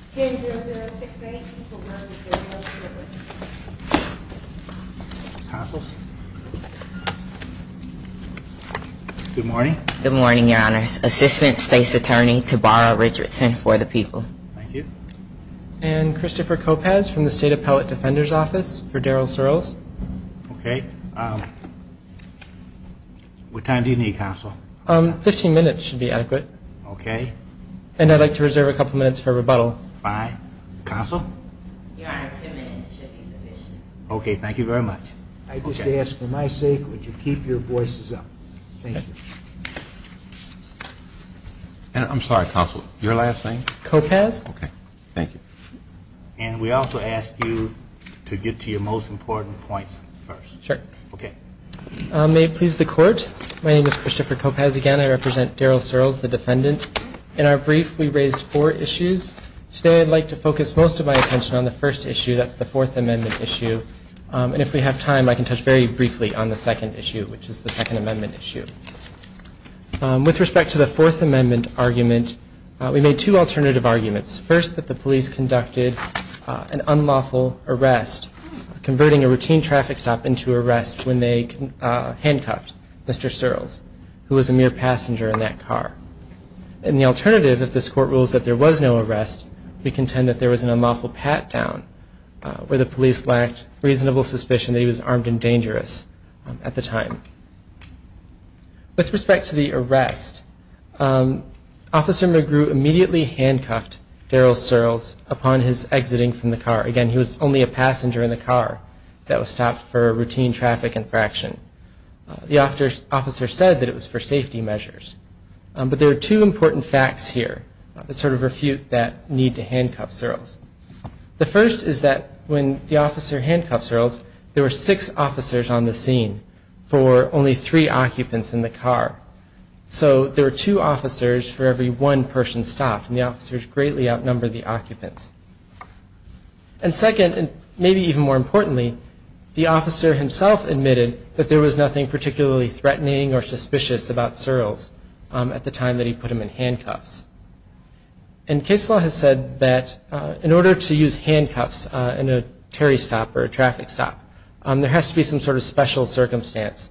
10-00-6-8. People, Mercy, Care, and Welfare. Councils. Good morning. Good morning, Your Honors. Assistant State's Attorney Tabara Richardson for the People. Thank you. And Christopher Kopasz from the State Appellate Defender's Office for Daryl Surles. Okay. Um, what time do you need, Council? Um, 15 minutes should be adequate. Okay. And I'd like to reserve a couple minutes for rebuttal. Fine. Council? Your Honor, 10 minutes should be sufficient. Okay, thank you very much. I just ask, for my sake, would you keep your voices up? Thank you. I'm sorry, Council. Your last name? Kopasz. Okay. Thank you. And we also ask you to get to your most important points first. Sure. Okay. May it please the Court, my name is Christopher Kopasz again. I represent Daryl Surles, the defendant. In our brief, we raised four issues. Today, I'd like to focus most of my attention on the first issue. That's the Fourth Amendment issue. And if we have time, I can touch very briefly on the second issue, which is the Second Amendment issue. With respect to the Fourth Amendment argument, we made two alternative arguments. First, that the police conducted an unlawful arrest, converting a routine traffic stop into arrest when they handcuffed Mr. Surles, who was a mere passenger in that car. And the alternative, if this Court rules that there was no arrest, we contend that there was an unlawful pat-down where the police lacked reasonable suspicion that he was armed and dangerous at the time. With respect to the arrest, Officer McGrew immediately handcuffed Daryl Surles upon his exiting from the car. Again, he was only a passenger in the car that was stopped for routine traffic infraction. The officer said that it was for safety measures. But there are two important facts here that sort of refute that need to handcuff Surles. The first is that when the officer handcuffed Surles, there were six officers on the scene for only three occupants in the car. So there were two officers for every one person stopped, and the officers greatly outnumbered the occupants. And second, and maybe even more importantly, the officer himself admitted that there was nothing particularly threatening or suspicious about Surles at the time that he put him in handcuffs. And case law has said that in order to use handcuffs in a tarry stop or a traffic stop, there has to be some sort of special circumstance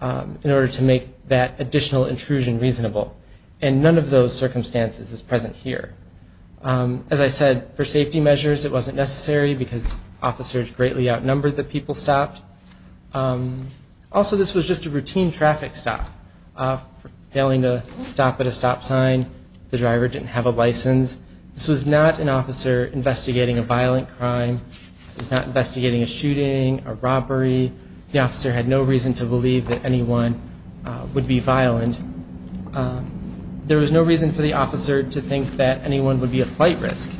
in order to make that additional intrusion reasonable. And none of those circumstances is present here. As I said, for safety measures it wasn't necessary because officers greatly outnumbered the people stopped. Also, this was just a routine traffic stop. Failing to stop at a stop sign, the driver didn't have a license. This was not an officer investigating a violent crime. It was not investigating a shooting, a robbery. The officer had no reason to believe that anyone would be violent. There was no reason for the officer to think that anyone would be a flight risk.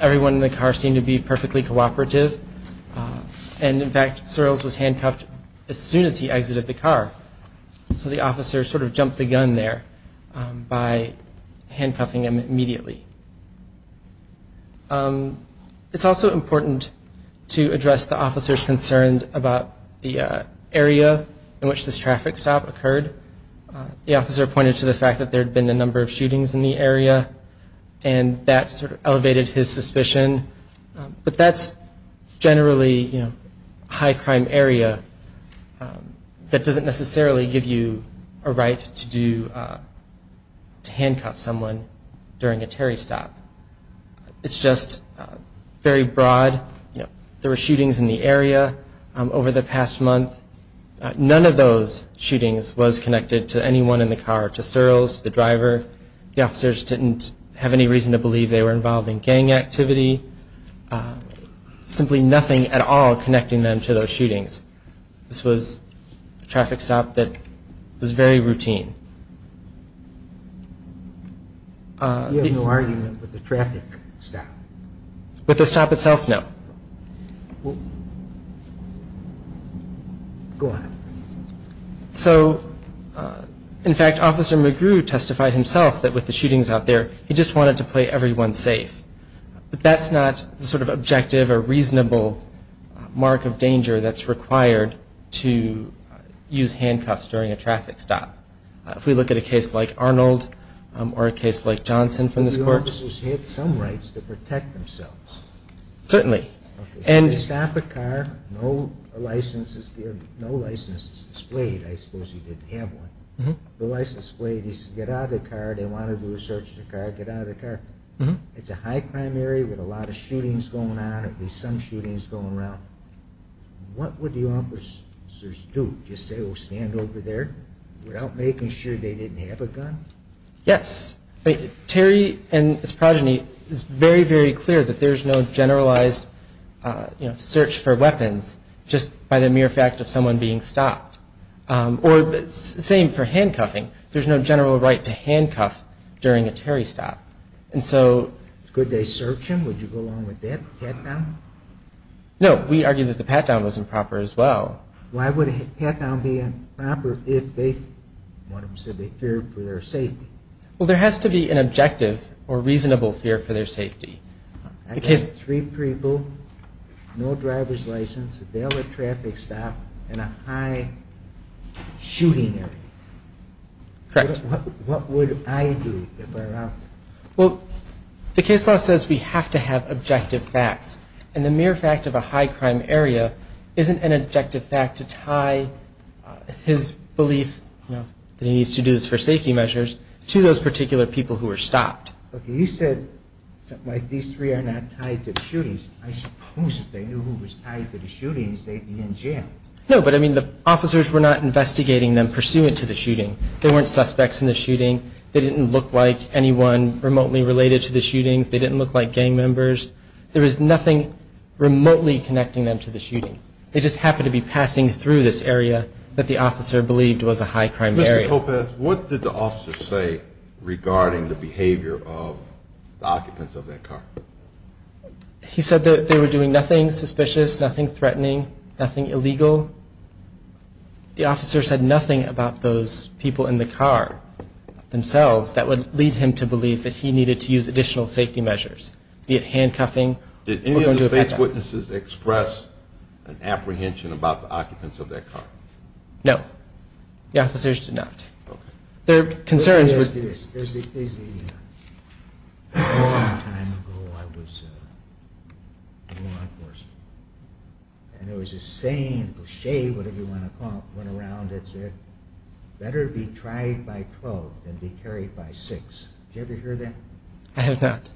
Everyone in the car seemed to be perfectly cooperative. And in fact, Surles was handcuffed as soon as he exited the car. So the officer sort of jumped the gun there by handcuffing him immediately. It's also important to address the officer's concerns about the area in which this traffic stop occurred. The officer pointed to the fact that there had been a number of shootings in the area and that sort of elevated his suspicion. But that's generally a high crime area that doesn't necessarily give you a right to handcuff someone during a Terry stop. It's just very broad. There were shootings in the area over the past month. None of those shootings was connected to anyone in the car, to Surles, to the driver. The officers didn't have any reason to believe they were involved in gang activity. Simply nothing at all connecting them to those shootings. This was a traffic stop that was very routine. You have no argument with the traffic stop? With the stop itself, no. Go ahead. So, in fact, Officer McGrew testified himself that with the shootings out there, he just wanted to play everyone safe. But that's not the sort of objective or reasonable mark of danger that's required to use handcuffs during a traffic stop. If we look at a case like Arnold or a case like Johnson from this court. But the officers had some rights to protect themselves. Certainly. If they stop a car, no license is displayed. I suppose he didn't have one. The license is displayed. He says, get out of the car. They want to do a search of the car. Get out of the car. It's a high crime area with a lot of shootings going on, at least some shootings going around. What would the officers do? Just say, oh, stand over there without making sure they didn't have a gun? Yes. Terry and his progeny, it's very, very clear that there's no generalized search for weapons just by the mere fact of someone being stopped. Same for handcuffing. There's no general right to handcuff during a Terry stop. Could they search him? Would you go along with that? Pat down? No. We argue that the pat down was improper as well. Why would a pat down be improper if they feared for their safety? Well, there has to be an objective or reasonable fear for their safety. Three people, no driver's license, they'll let traffic stop in a high shooting area. Correct. What would I do if I were out? Well, the case law says we have to have objective facts. And the mere fact of a high crime area isn't an objective fact to tie his belief that he needs to do this for safety measures to those particular people who were stopped. Okay, you said these three are not tied to the shootings. I suppose if they knew who was tied to the shootings, they'd be in jail. No, but I mean the officers were not investigating them pursuant to the shooting. They weren't suspects in the shooting. They didn't look like anyone remotely related to the shootings. They didn't look like gang members. There was nothing remotely connecting them to the shootings. They just happened to be passing through this area that the officer believed was a high crime area. Mr. Kopech, what did the officer say regarding the occupants of that car? He said that they were doing nothing suspicious, nothing threatening, nothing illegal. The officer said nothing about those people in the car themselves that would lead him to believe that he needed to use additional safety measures, be it handcuffing or going to a backup. Did any of the state's witnesses express an apprehension about the occupants of that car? No. The officers did not. Okay. There are concerns with this. There's a long time ago I was in law enforcement, and there was a saying, a cliche, whatever you want to call it, went around that said better be tried by twelve than be carried by six. Did you ever hear that? I have not.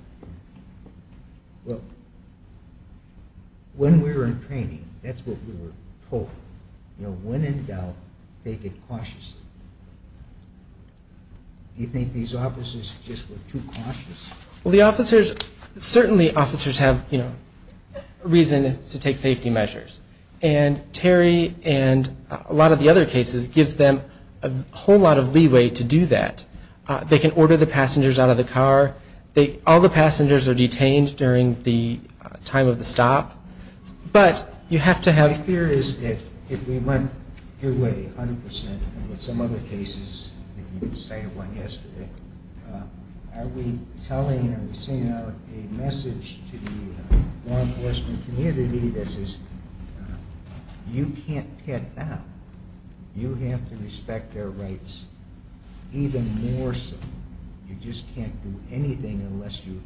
When we were in training, that's what we were told, you know, when in doubt, take it cautiously. Do you think these officers just were too cautious? Well, the officers, certainly officers have, you know, reason to take safety measures, and Terry and a lot of the other cases give them a whole lot of leeway to do that. They can order the passengers out of the car, all the passengers are detained during the time of the stop, but you have to have... My fear is that if we went your way a hundred percent, and in some other cases, you cited one yesterday, are we telling, are we sending out a message to the law enforcement community that says you can't get out. You have to respect their rights even more so. You just can't do anything unless you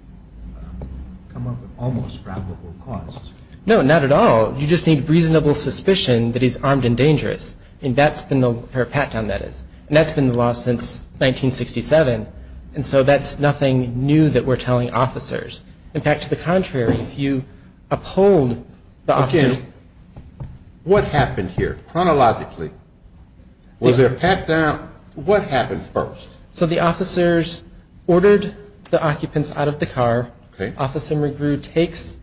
come up with almost probable causes. No, not at all. You just need reasonable suspicion that he's armed and dangerous, and that's been the law since 1967, and so that's nothing new that we're telling officers. In fact, to the contrary, if you uphold the officers... Okay, what happened here, chronologically? Was there a pat-down? What happened first? So the officers ordered the occupants out of the car, Officer McGrew takes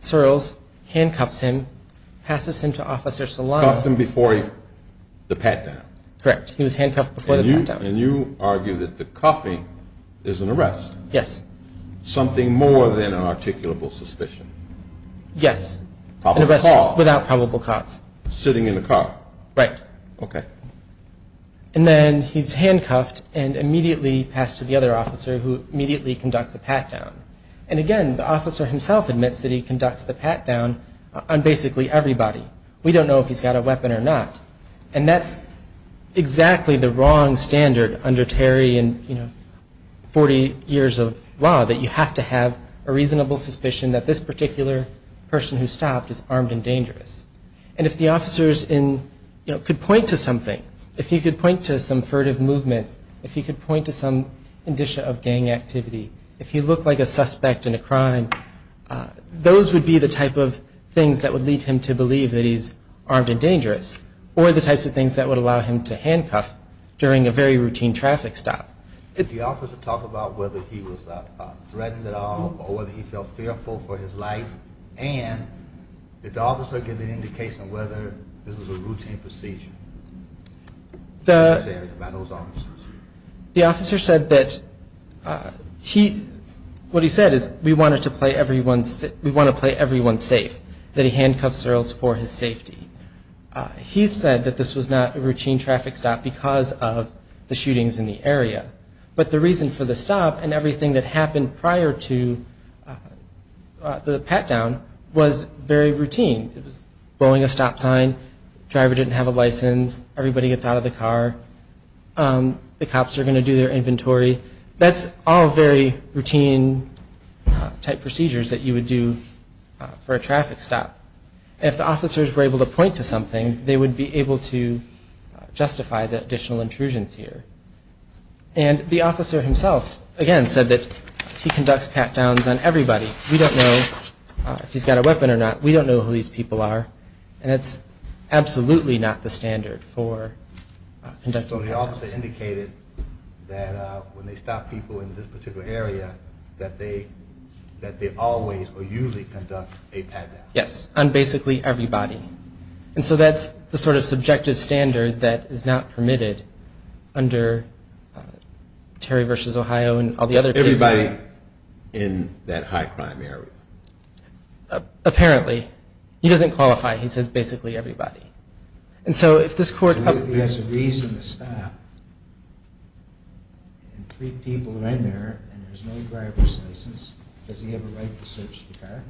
Searles, handcuffs him, passes him to Officer Solano... Cuffed him before the pat-down? Correct. He was handcuffed before the pat-down. And you argue that the cuffing is an arrest? Yes. Something more than an articulable suspicion? Yes. Probable cause? Without probable cause. Sitting in the car? Right. Okay. And then he's handcuffed and immediately passed to the other officer who immediately conducts a pat-down. And again, the officer himself admits that he conducts the pat-down on basically everybody. We don't know if he's got a weapon or not. And that's exactly the wrong standard under Terry and 40 years of law, that you have to have a reasonable suspicion that this particular person who stopped is armed and dangerous. And if the officers could point to something, if you could point to some furtive movements, if you could point to some indicia of gang activity, if he looked like a suspect in a crime, those would be the type of things that would lead him to believe that he's armed and dangerous. Or the types of things that would allow him to handcuff during a very routine traffic stop. Did the officer talk about whether he was threatened at all or whether he felt fearful for his life? And did the officer give any indication of whether this was a routine procedure? The... By those officers. The officer said that he... What he said is, we want to play everyone safe, that he handcuffs girls for his safety. He said that this was not a routine traffic stop because of the shootings in the area. But the reason for the stop and everything that happened prior to the pat-down was very routine. It was blowing a stop sign, driver didn't have a license, everybody gets out of the car, the cops are going to do their inventory. That's all very routine type procedures that you would do for a traffic stop. If the officers were able to point to something, they would be able to justify the additional intrusions here. And the officer himself, again, said that he conducts pat-downs on everybody. We don't know if he's got a weapon or not. We don't know who these people are. And it's absolutely not the case. So the officer indicated that when they stop people in this particular area, that they always or usually conduct a pat-down? Yes, on basically everybody. And so that's the sort of subjective standard that is not permitted under Terry v. Ohio and all the other cases. Everybody in that high crime area? Apparently. He doesn't qualify. He says basically everybody. And so if this court has a reason to stop and three people are in there and there's no driver's license, does he have a right to search the car?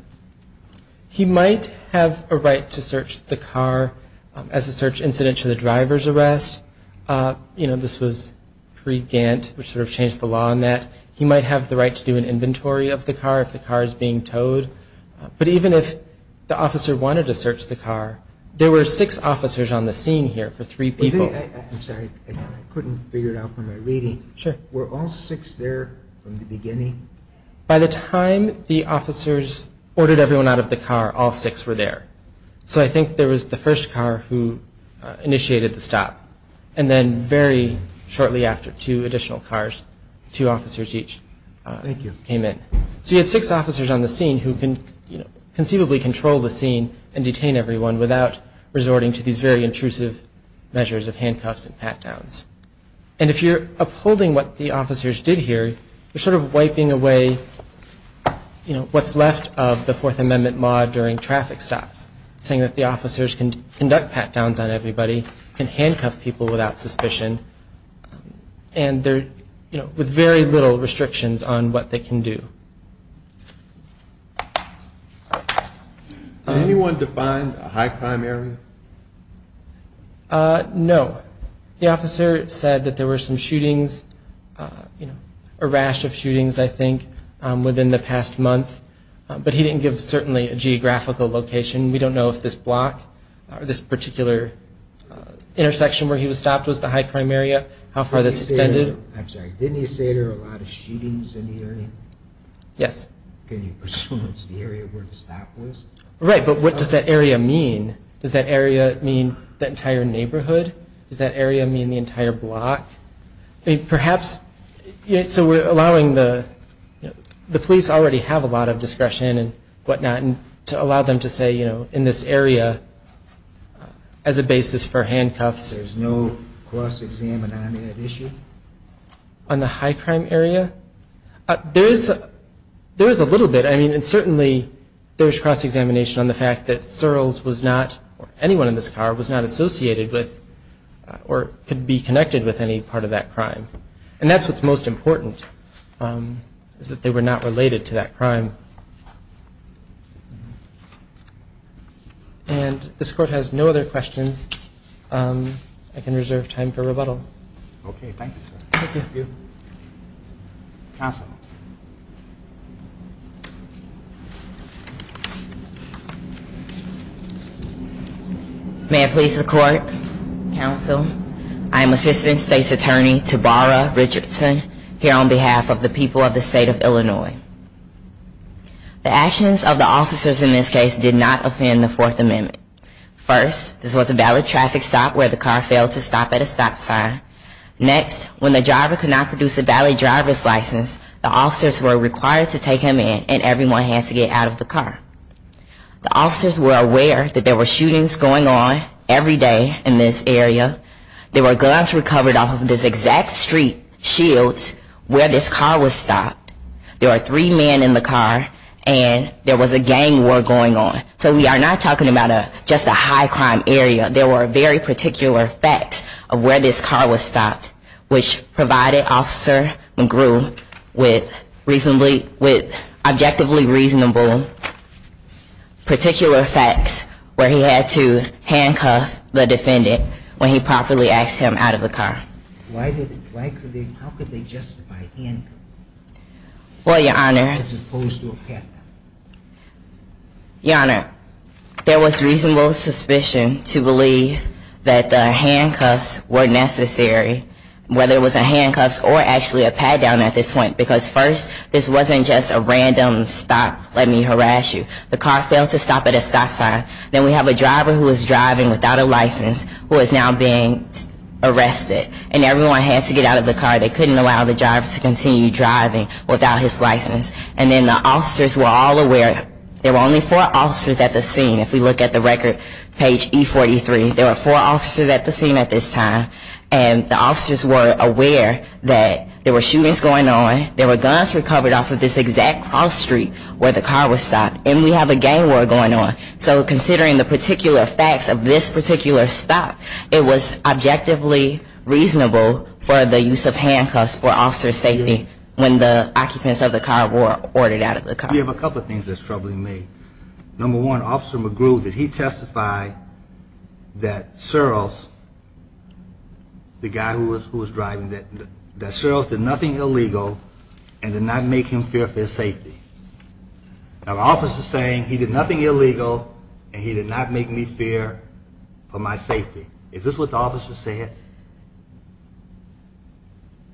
He might have a right to search the car as a search incident to the driver's arrest. You know, this was pre-Gantt, which sort of changed the law on that. He might have the right to do an inventory of the car if the car is being towed. But even if the officer wanted to search the car, there were six officers on the scene here for three people. I'm sorry, I couldn't figure it out from my reading. Were all six there from the beginning? By the time the officers ordered everyone out of the car, all six were there. So I think there was the first car who initiated the stop. And then very shortly after, two additional cars, two officers each came in. So you had six officers on the scene who can conceivably control the scene and detain everyone without resorting to these very intrusive measures of handcuffs and pat-downs. And if you're upholding what the officers did here, you're sort of wiping away what's left of the Fourth Amendment law during traffic stops, saying that the officers can conduct pat-downs on everybody, can handcuff people without suspicion, and they're with very little restrictions on what they can do. Did anyone define a high crime area? No. The officer said that there were some shootings, a rash of shootings, I think, within the past month. But he didn't give, certainly, a geographical location. We don't know if this block, or this particular intersection where he was stopped was the high crime area, how far this extended. I'm sorry, didn't he say there were a lot of shootings in the area? Yes. Can you presume it's the area where the stop was? Right, but what does that area mean? Does that area mean the entire neighborhood? Does that area mean the entire block? I mean, perhaps, so we're allowing the police already have a lot of discretion and whatnot, and to allow them to say, you know, in this area, as a basis for handcuffs. There's no cross-examine on that issue? On the high crime area? There is a little bit. I mean, certainly, there's cross-examination on the fact that Searles was not, or anyone in this car, was not associated with or could be connected with any part of that crime. And that's what's most important, is that they were not related to that crime. And this Court has no other questions. I can reserve time for rebuttal. Okay, thank you, sir. May it please the Court, Counsel, I am Assistant State's Attorney Tabara Richardson, here on behalf of the people of the state of Illinois. The actions of the officers in this case did not offend the Fourth Amendment. First, this was a valid traffic stop where the car failed to stop at a stop sign. Next, when the driver could not produce a valid driver's license, the officers were required to take him in, and everyone had to get out of the car. The officers were aware that there were shootings going on every day in this area. There were guns recovered off of this exact street, Shields, where this car was stopped. There were three men in the car, and there was a gang war going on. So we are not talking about just a high-crime area. There were very particular facts of where this car was stopped, which provided Officer McGrew with objectively reasonable particular facts where he had to handcuff the defendant when he properly asked him out of the car. How could they justify handcuffing as opposed to a pat down? Your Honor, there was reasonable suspicion to believe that the handcuffs were necessary, whether it was a handcuffs or actually a pat down at this point, because first, this wasn't just a random stop, let me harass you. The car failed to stop at a stop sign. Then we have a driver who was driving without a license who is now being arrested, and everyone had to get out of the car. They couldn't allow the driver to continue driving without his license. And then the officers were all aware. There were only four officers at the scene. If we look at the record, page E43, there were four officers at the scene at this time, and the officers were aware that there were shootings going on, there were guns recovered off of this exact cross street where the car was stopped, and we have a gang war going on. So considering the particular facts of this particular stop, it was objectively reasonable for the use of handcuffs for officer's safety when the occupants of the car were ordered out of the car. We have a couple of things that's troubling me. Number one, Officer McGrew, did he testify that Searles, the guy who was driving, that Searles did nothing illegal and did not make him fear for his safety? Now the officer is saying he did nothing illegal and he did not make me fear for my safety. Is this what the officer said?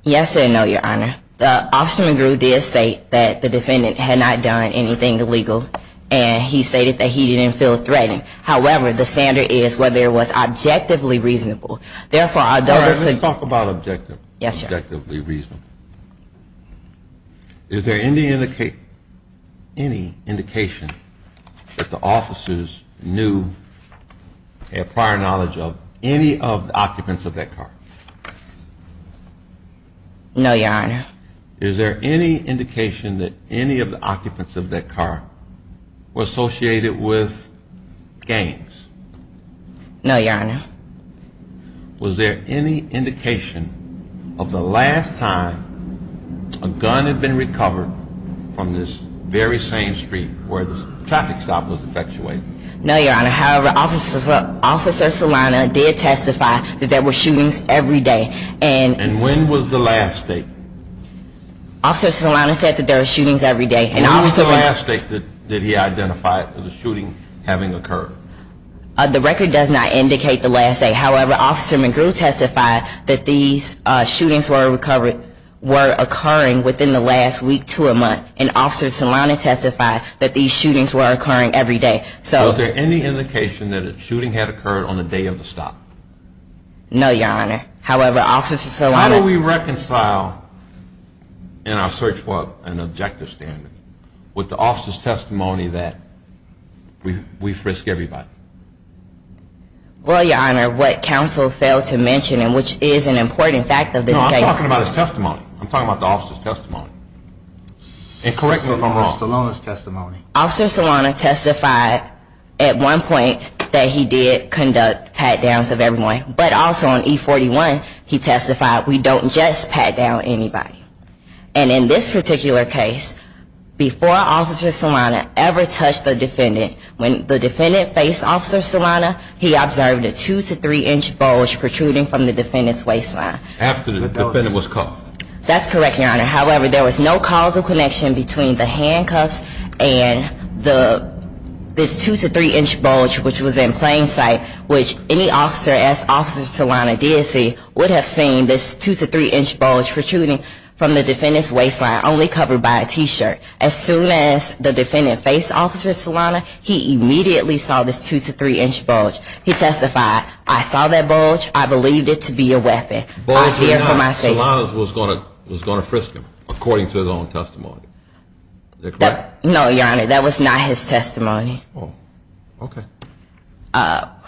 Yes and no, Your Honor. The officer McGrew did state that the defendant had not done anything illegal and he stated that he didn't feel threatened. However, the standard is whether it was objectively reasonable. Therefore, I don't think Let's talk about objectively reasonable. Is there any indication that the officers knew or prior knowledge of any of the occupants of the car No, Your Honor. Is there any indication that any of the occupants of that car were associated with gangs? No, Your Honor. Was there any indication of the last time a gun had been recovered from this very same street where the traffic stop was effectuated? No, Your Honor. However, Officer Solano did testify that there were shootings every day. And when was the last date? Officer Solano said that there were shootings every day. When was the last date that he identified the shooting having occurred? The record does not indicate the last date. However, Officer McGrew testified that these shootings were occurring within the last week to a month and Officer Solano testified that these shootings were occurring every day. So is there any indication that a shooting had occurred on the day of the traffic stop? No, Your Honor. However, Officer Solano How do we reconcile in our search for an objective standard with the officer's testimony that we risk everybody? Well, Your Honor, what counsel failed to mention, and which is an important fact of this case No, I'm talking about his testimony. I'm talking about the officer's testimony. And correct me if I'm wrong. Officer Solano testified at one point that he did conduct pat-downs of everyone. But also on E41 he testified we don't just pat down anybody. And in this particular case, before Officer Solano ever touched the defendant, when the defendant faced Officer Solano, he observed a 2 to 3 inch bulge protruding from the defendant's waistline. After the defendant was cuffed? That's correct, Your Honor. However, there was no causal connection between the handcuffs and the this 2 to 3 inch bulge, which was in plain sight, which any officer, as Officer Solano did see, would have seen this 2 to 3 inch bulge protruding from the defendant's waistline, only covered by a t-shirt. As soon as the defendant faced Officer Solano, he immediately saw this 2 to 3 inch bulge. He testified, I saw that bulge. I believed it to be a weapon. I fear for my safety. Solano was going to frisk him, according to his own testimony. Is that correct? No, Your Honor. That was not his testimony. Oh. Okay.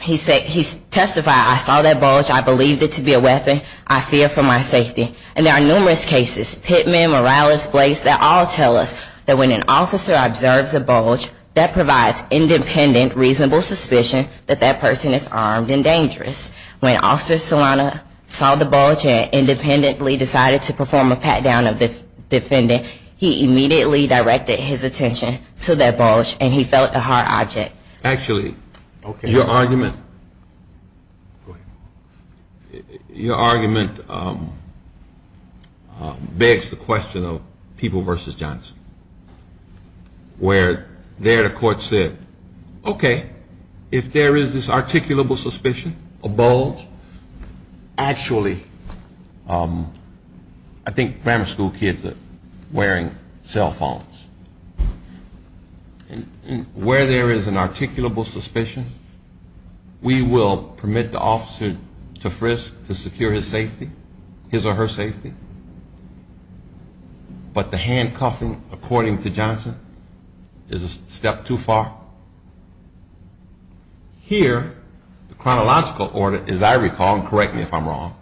He testified, I saw that bulge. I believed it to be a weapon. I fear for my safety. And there are numerous cases, Pittman, Morales, Blakes, that all tell us that when an officer observes a bulge, that provides independent, reasonable suspicion that that person is armed and dangerous. When Officer Solano saw the bulge and independently decided to perform a pat-down of the defendant, he immediately directed his attention to that bulge and he felt a hard object. Actually, your argument Your argument begs the question of People v. Johnson, where there the court said, okay, if there is this articulable suspicion a bulge, actually I think grammar school kids are wearing cell phones. Where there is an articulable suspicion, we will permit the officer to frisk to secure his safety, his or her safety. But the handcuffing, according to Johnson, is a step too far. Here, the chronological order, as I recall, and correct me if I'm wrong,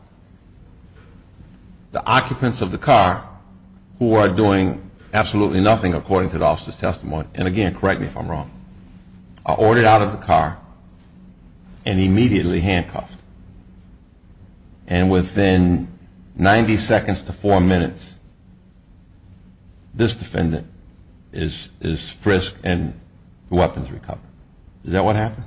the occupants of the car, who are doing absolutely nothing according to the officer's testimony, and again, correct me if I'm wrong, are ordered out of the car and immediately handcuffed. And within 90 seconds to four minutes, this defendant is frisked and the weapon is recovered. Is that what happened?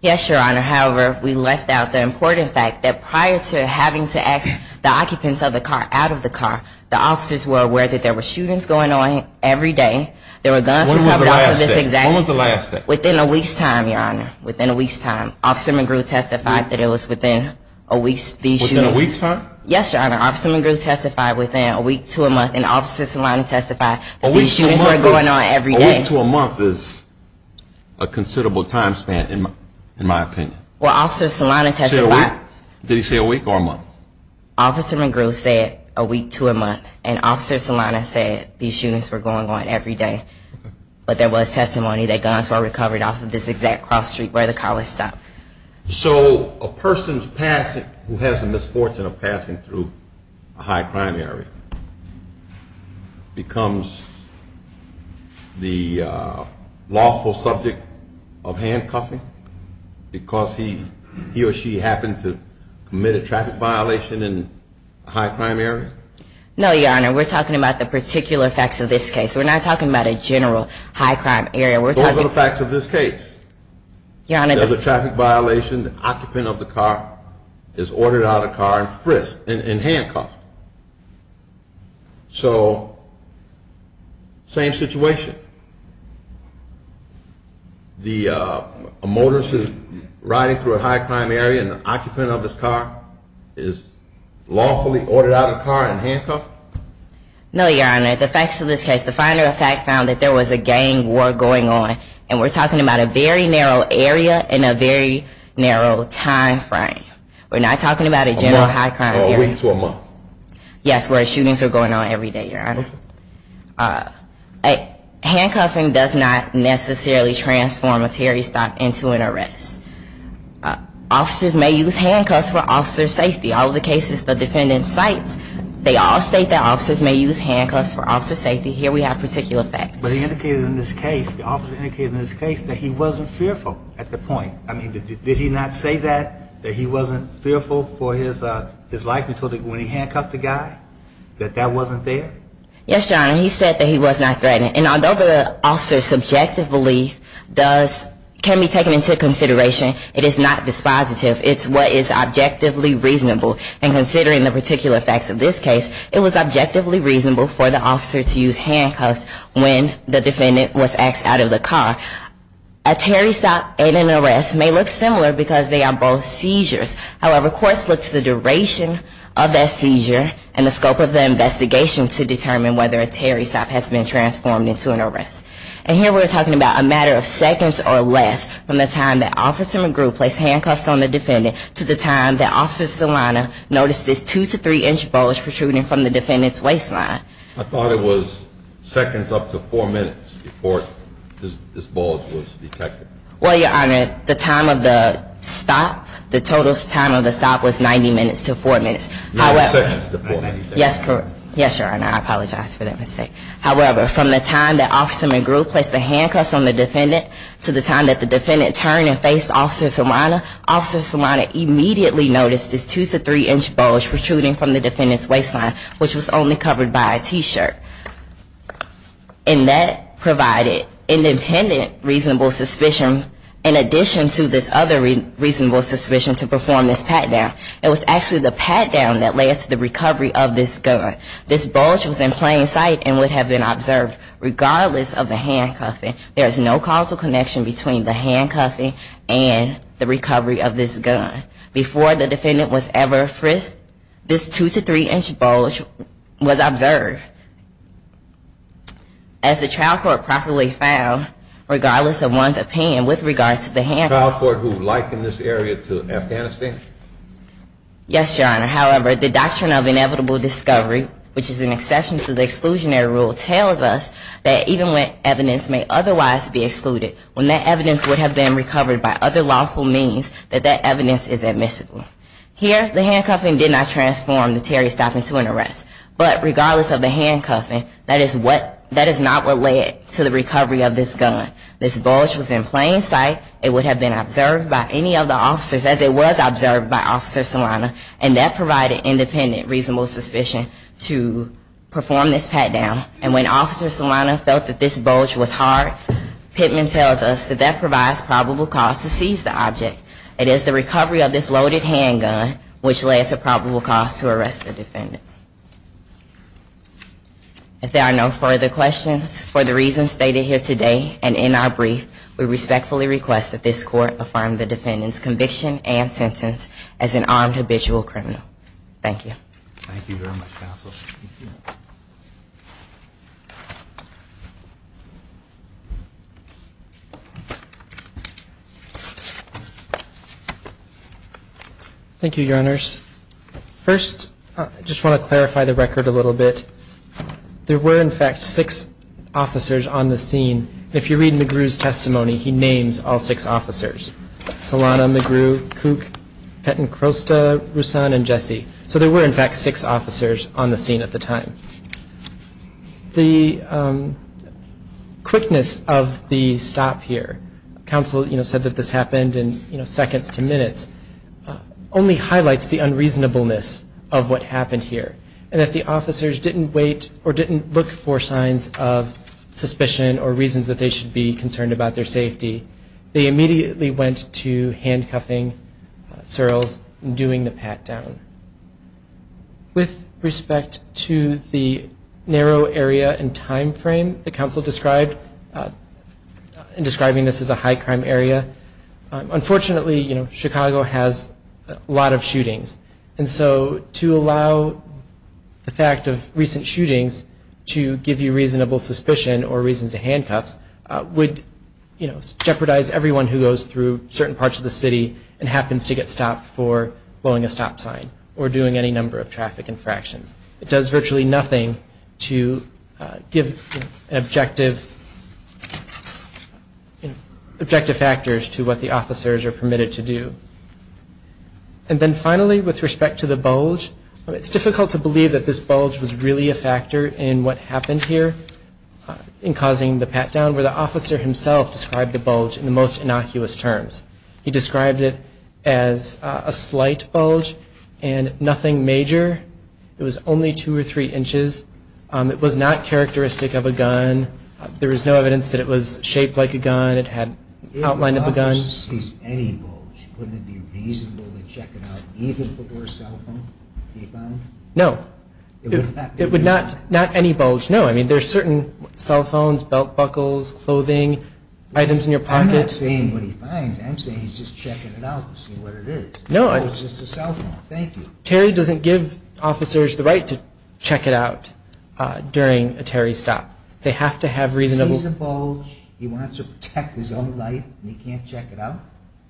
Yes, your honor. However, we left out the important fact that prior to having to ask the occupants of the car out of the car, the officers were aware that there were shootings going on every day, there were guns recovered on this exact day. When was the last day? Within a week's time, your honor. Officer McGrew testified that it was within a week's time. Yes, your honor. Officer McGrew testified within a week to a month and Officer Solano testified that these shootings were going on every day. A week to a month is a considerable time span, in my opinion. Well, Officer Solano testified within a week or a month. Officer McGrew said a week to a month and Officer Solano said these shootings were going on every day. But there was testimony that guns were recovered off of this exact cross street where the car was stopped. So a person who has the misfortune of passing through a high crime area becomes the lawful subject of handcuffing because he or she happened to commit a traffic violation in a high crime area? No, your honor. We're talking about the particular facts of this case. We're not talking about a general high crime area. Those are the facts of this case. Your honor, the traffic violation, the occupant of the car is ordered out of the car and frisked and handcuffed. So, same situation. The high crime area and the occupant of this car is lawfully ordered out of the car and handcuffed? No, your honor. The facts of this case, the final fact found that there was a gang war going on and we're talking about a very narrow area and a very narrow time frame. We're not talking about a general high crime area. A week to a month? Yes, where shootings are going on every day, your honor. Handcuffing does not necessarily transform a Terry stop into an arrest. Officers may use handcuffs for officer safety. All of the cases the defendant cites, they all state that officers may use handcuffs for officer safety. Here we have particular facts. But it indicated in this case, the officer indicated in this case that he wasn't fearful at the point. Did he not say that, that he wasn't fearful for his life until when he handcuffed the guy, that that wasn't there? Yes, your honor. He said that he was not threatened. And although the officer's subjective belief can be taken into consideration, it is not dispositive. It's what is objectively reasonable. And considering the particular facts of this case, it was objectively reasonable for the officer to use handcuffs when the defendant was axed out of the car. A Terry stop and an arrest may look similar because they are both seizures. However, courts look to the duration of that seizure and the scope of the investigation to determine whether a Terry stop has been transformed into an arrest. And here we're talking about a matter of seconds or less from the time that Officer McGrew placed handcuffs on the defendant to the time that Officer Stillano noticed this 2 to 3 inch bulge protruding from the defendant's waistline. I thought it was seconds up to 4 minutes before this bulge was detected. Well, your honor, the time of the stop, the total time of the stop was 90 minutes to 4 minutes. 90 seconds to 4 minutes. Yes, your honor. I apologize for that mistake. However, from the time that Officer McGrew placed the handcuffs on the defendant to the time that the defendant turned and faced Officer Stillano, Officer Stillano immediately noticed this 2 to 3 inch bulge protruding from the defendant's waistline, which was only covered by a T-shirt. And that provided independent reasonable suspicion in addition to this other reasonable suspicion to perform this pat-down. It was actually the pat-down that led to the recovery of this gun. This bulge was in plain sight and would have been observed regardless of the handcuffing. There is no causal connection between the handcuffing and the recovery of this gun. Before the defendant was ever frisked, this 2 to 3 inch bulge was observed. As the trial court properly found, regardless of one's opinion with regards to the handcuffs, the trial court who likened this area to Afghanistan? Yes, your honor. However, the doctrine of inevitable discovery, which is an exception to the exclusionary rule, tells us that even when evidence may otherwise be excluded, when that evidence would have been recovered by other lawful means, that that evidence is admissible. Here, the handcuffing did not transform the Terry stop into an arrest. But regardless of the handcuffing, that is not what led to the recovery of this gun. This bulge was in plain sight. It would have been observed by any of the officers as it was provided independent reasonable suspicion to perform this pat down. And when Officer Solano felt that this bulge was hard, Pittman tells us that that provides probable cause to seize the object. It is the recovery of this loaded handgun which led to probable cause to arrest the defendant. If there are no further questions for the reasons stated here today and in our brief, we respectfully request that this court affirm the defendant's conviction and acquit him of the crime. Thank you. Thank you very much, Counsel. Thank you, Your Honors. First, I just want to clarify the record a little bit. There were in fact six officers on the scene. If you read McGrew's testimony, he names all six officers. Solano, McGrew, Cooke, Petten, Crosta, Rusan, and Jesse. So there were in fact six officers on the scene at the time. The quickness of the stop here, Counsel said that this happened in seconds to minutes, only highlights the unreasonableness of what happened here. And if the officers didn't wait or didn't look for signs of suspicion or reasons that they should be concerned about their safety, they wouldn't have been doing the pat down. With respect to the narrow area and time frame that Counsel described in describing this as a high crime area, unfortunately Chicago has a lot of shootings. And so to allow the fact of recent shootings to give you reasonable suspicion or reasons to handcuff would jeopardize everyone who goes through certain parts of the city and happens to get stopped for blowing a stop sign or doing any number of traffic infractions. It does virtually nothing to give an objective objective factors to what the officers are permitted to do. And then finally with respect to the bulge, it's difficult to believe that this bulge was really a factor in what happened here in causing the pat down where the officer himself described the bulge in the most innocuous terms. He described it as a slight bulge and nothing major. It was only two or three inches. It was not characteristic of a gun. There was no evidence that it was shaped like a gun. It had outline of a gun. If the officer sees any bulge, wouldn't it be reasonable to check it out even for a cell phone? No. It would not, not any bulge, no. I mean there's certain cell phones, belt buckles, clothing, items in your pocket. I'm not saying what he finds. I'm saying he's just checking it out to see what it is. No. It's just a cell phone. Thank you. Terry doesn't give officers the right to check it out during a Terry stop. They have to have reasonable. If he sees a bulge, he wants to protect his own life and he can't check it out?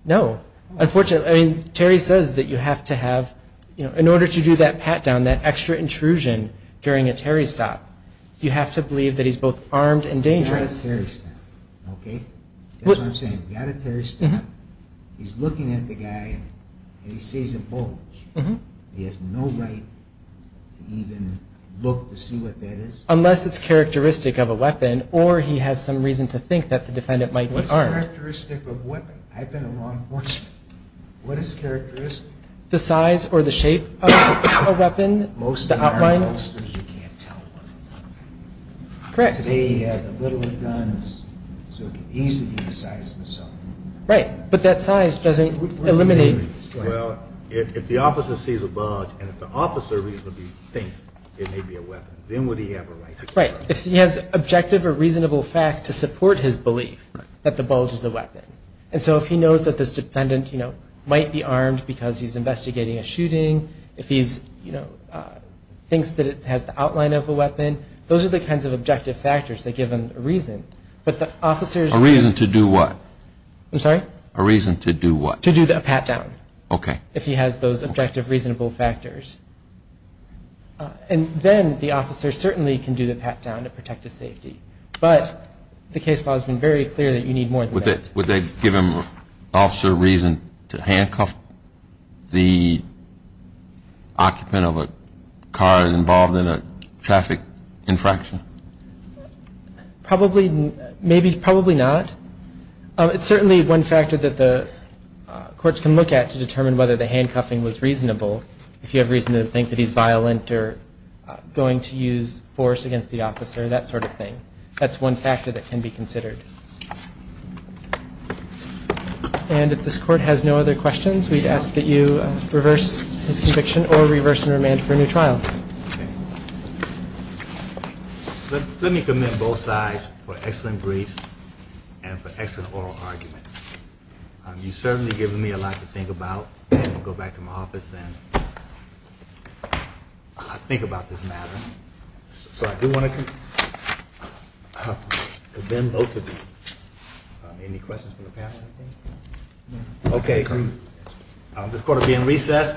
No. Unfortunately, I mean Terry says that you have to have, you know, in order to do that pat down, that extra intrusion during a Terry stop, you have to believe that he's both armed and dangerous. You've got a Terry stop. Okay? That's what I'm saying. You've got a Terry stop. He's looking at the guy and he sees a bulge. He has no right to even look to see what that is? Unless it's characteristic of a weapon or he has some reason to think that the defendant might be armed. What's characteristic of a weapon? I've been a law enforcement. What is characteristic? The size or the shape of a weapon, the outline. Correct. Right. But that size doesn't eliminate. Right. If he has objective or reasonable facts to support his belief that the bulge is a weapon. And so if he knows that this defendant might be armed because he's investigating a shooting, if he's you know, thinks that it has the outline of a weapon, those are the kinds of objective factors that give him a reason. A reason to do what? I'm sorry? A reason to do what? To do a pat down. Okay. If he has those objective reasonable factors. And then the officer certainly can do the pat down to protect his safety. But the case law has been very clear that you need more than that. Would they give him, the officer, a reason to handcuff the occupant of a car involved in a traffic infraction? Probably, maybe, probably not. It's certainly one factor that the courts can look at to determine whether the handcuffing was reasonable. If you have reason to think that he's violent or going to use force against the officer, that sort of thing. That's one factor that can be considered. And if this Court has no other questions, we'd ask that you reverse his conviction or reverse and remand for a new trial. Okay. Let me commend both sides for excellent briefs and for excellent oral argument. You've certainly given me a lot to think about. I'm going to go back to my office and think about this matter. So I do want to commend both of you. Any questions from the panel? Okay. This Court is being recessed.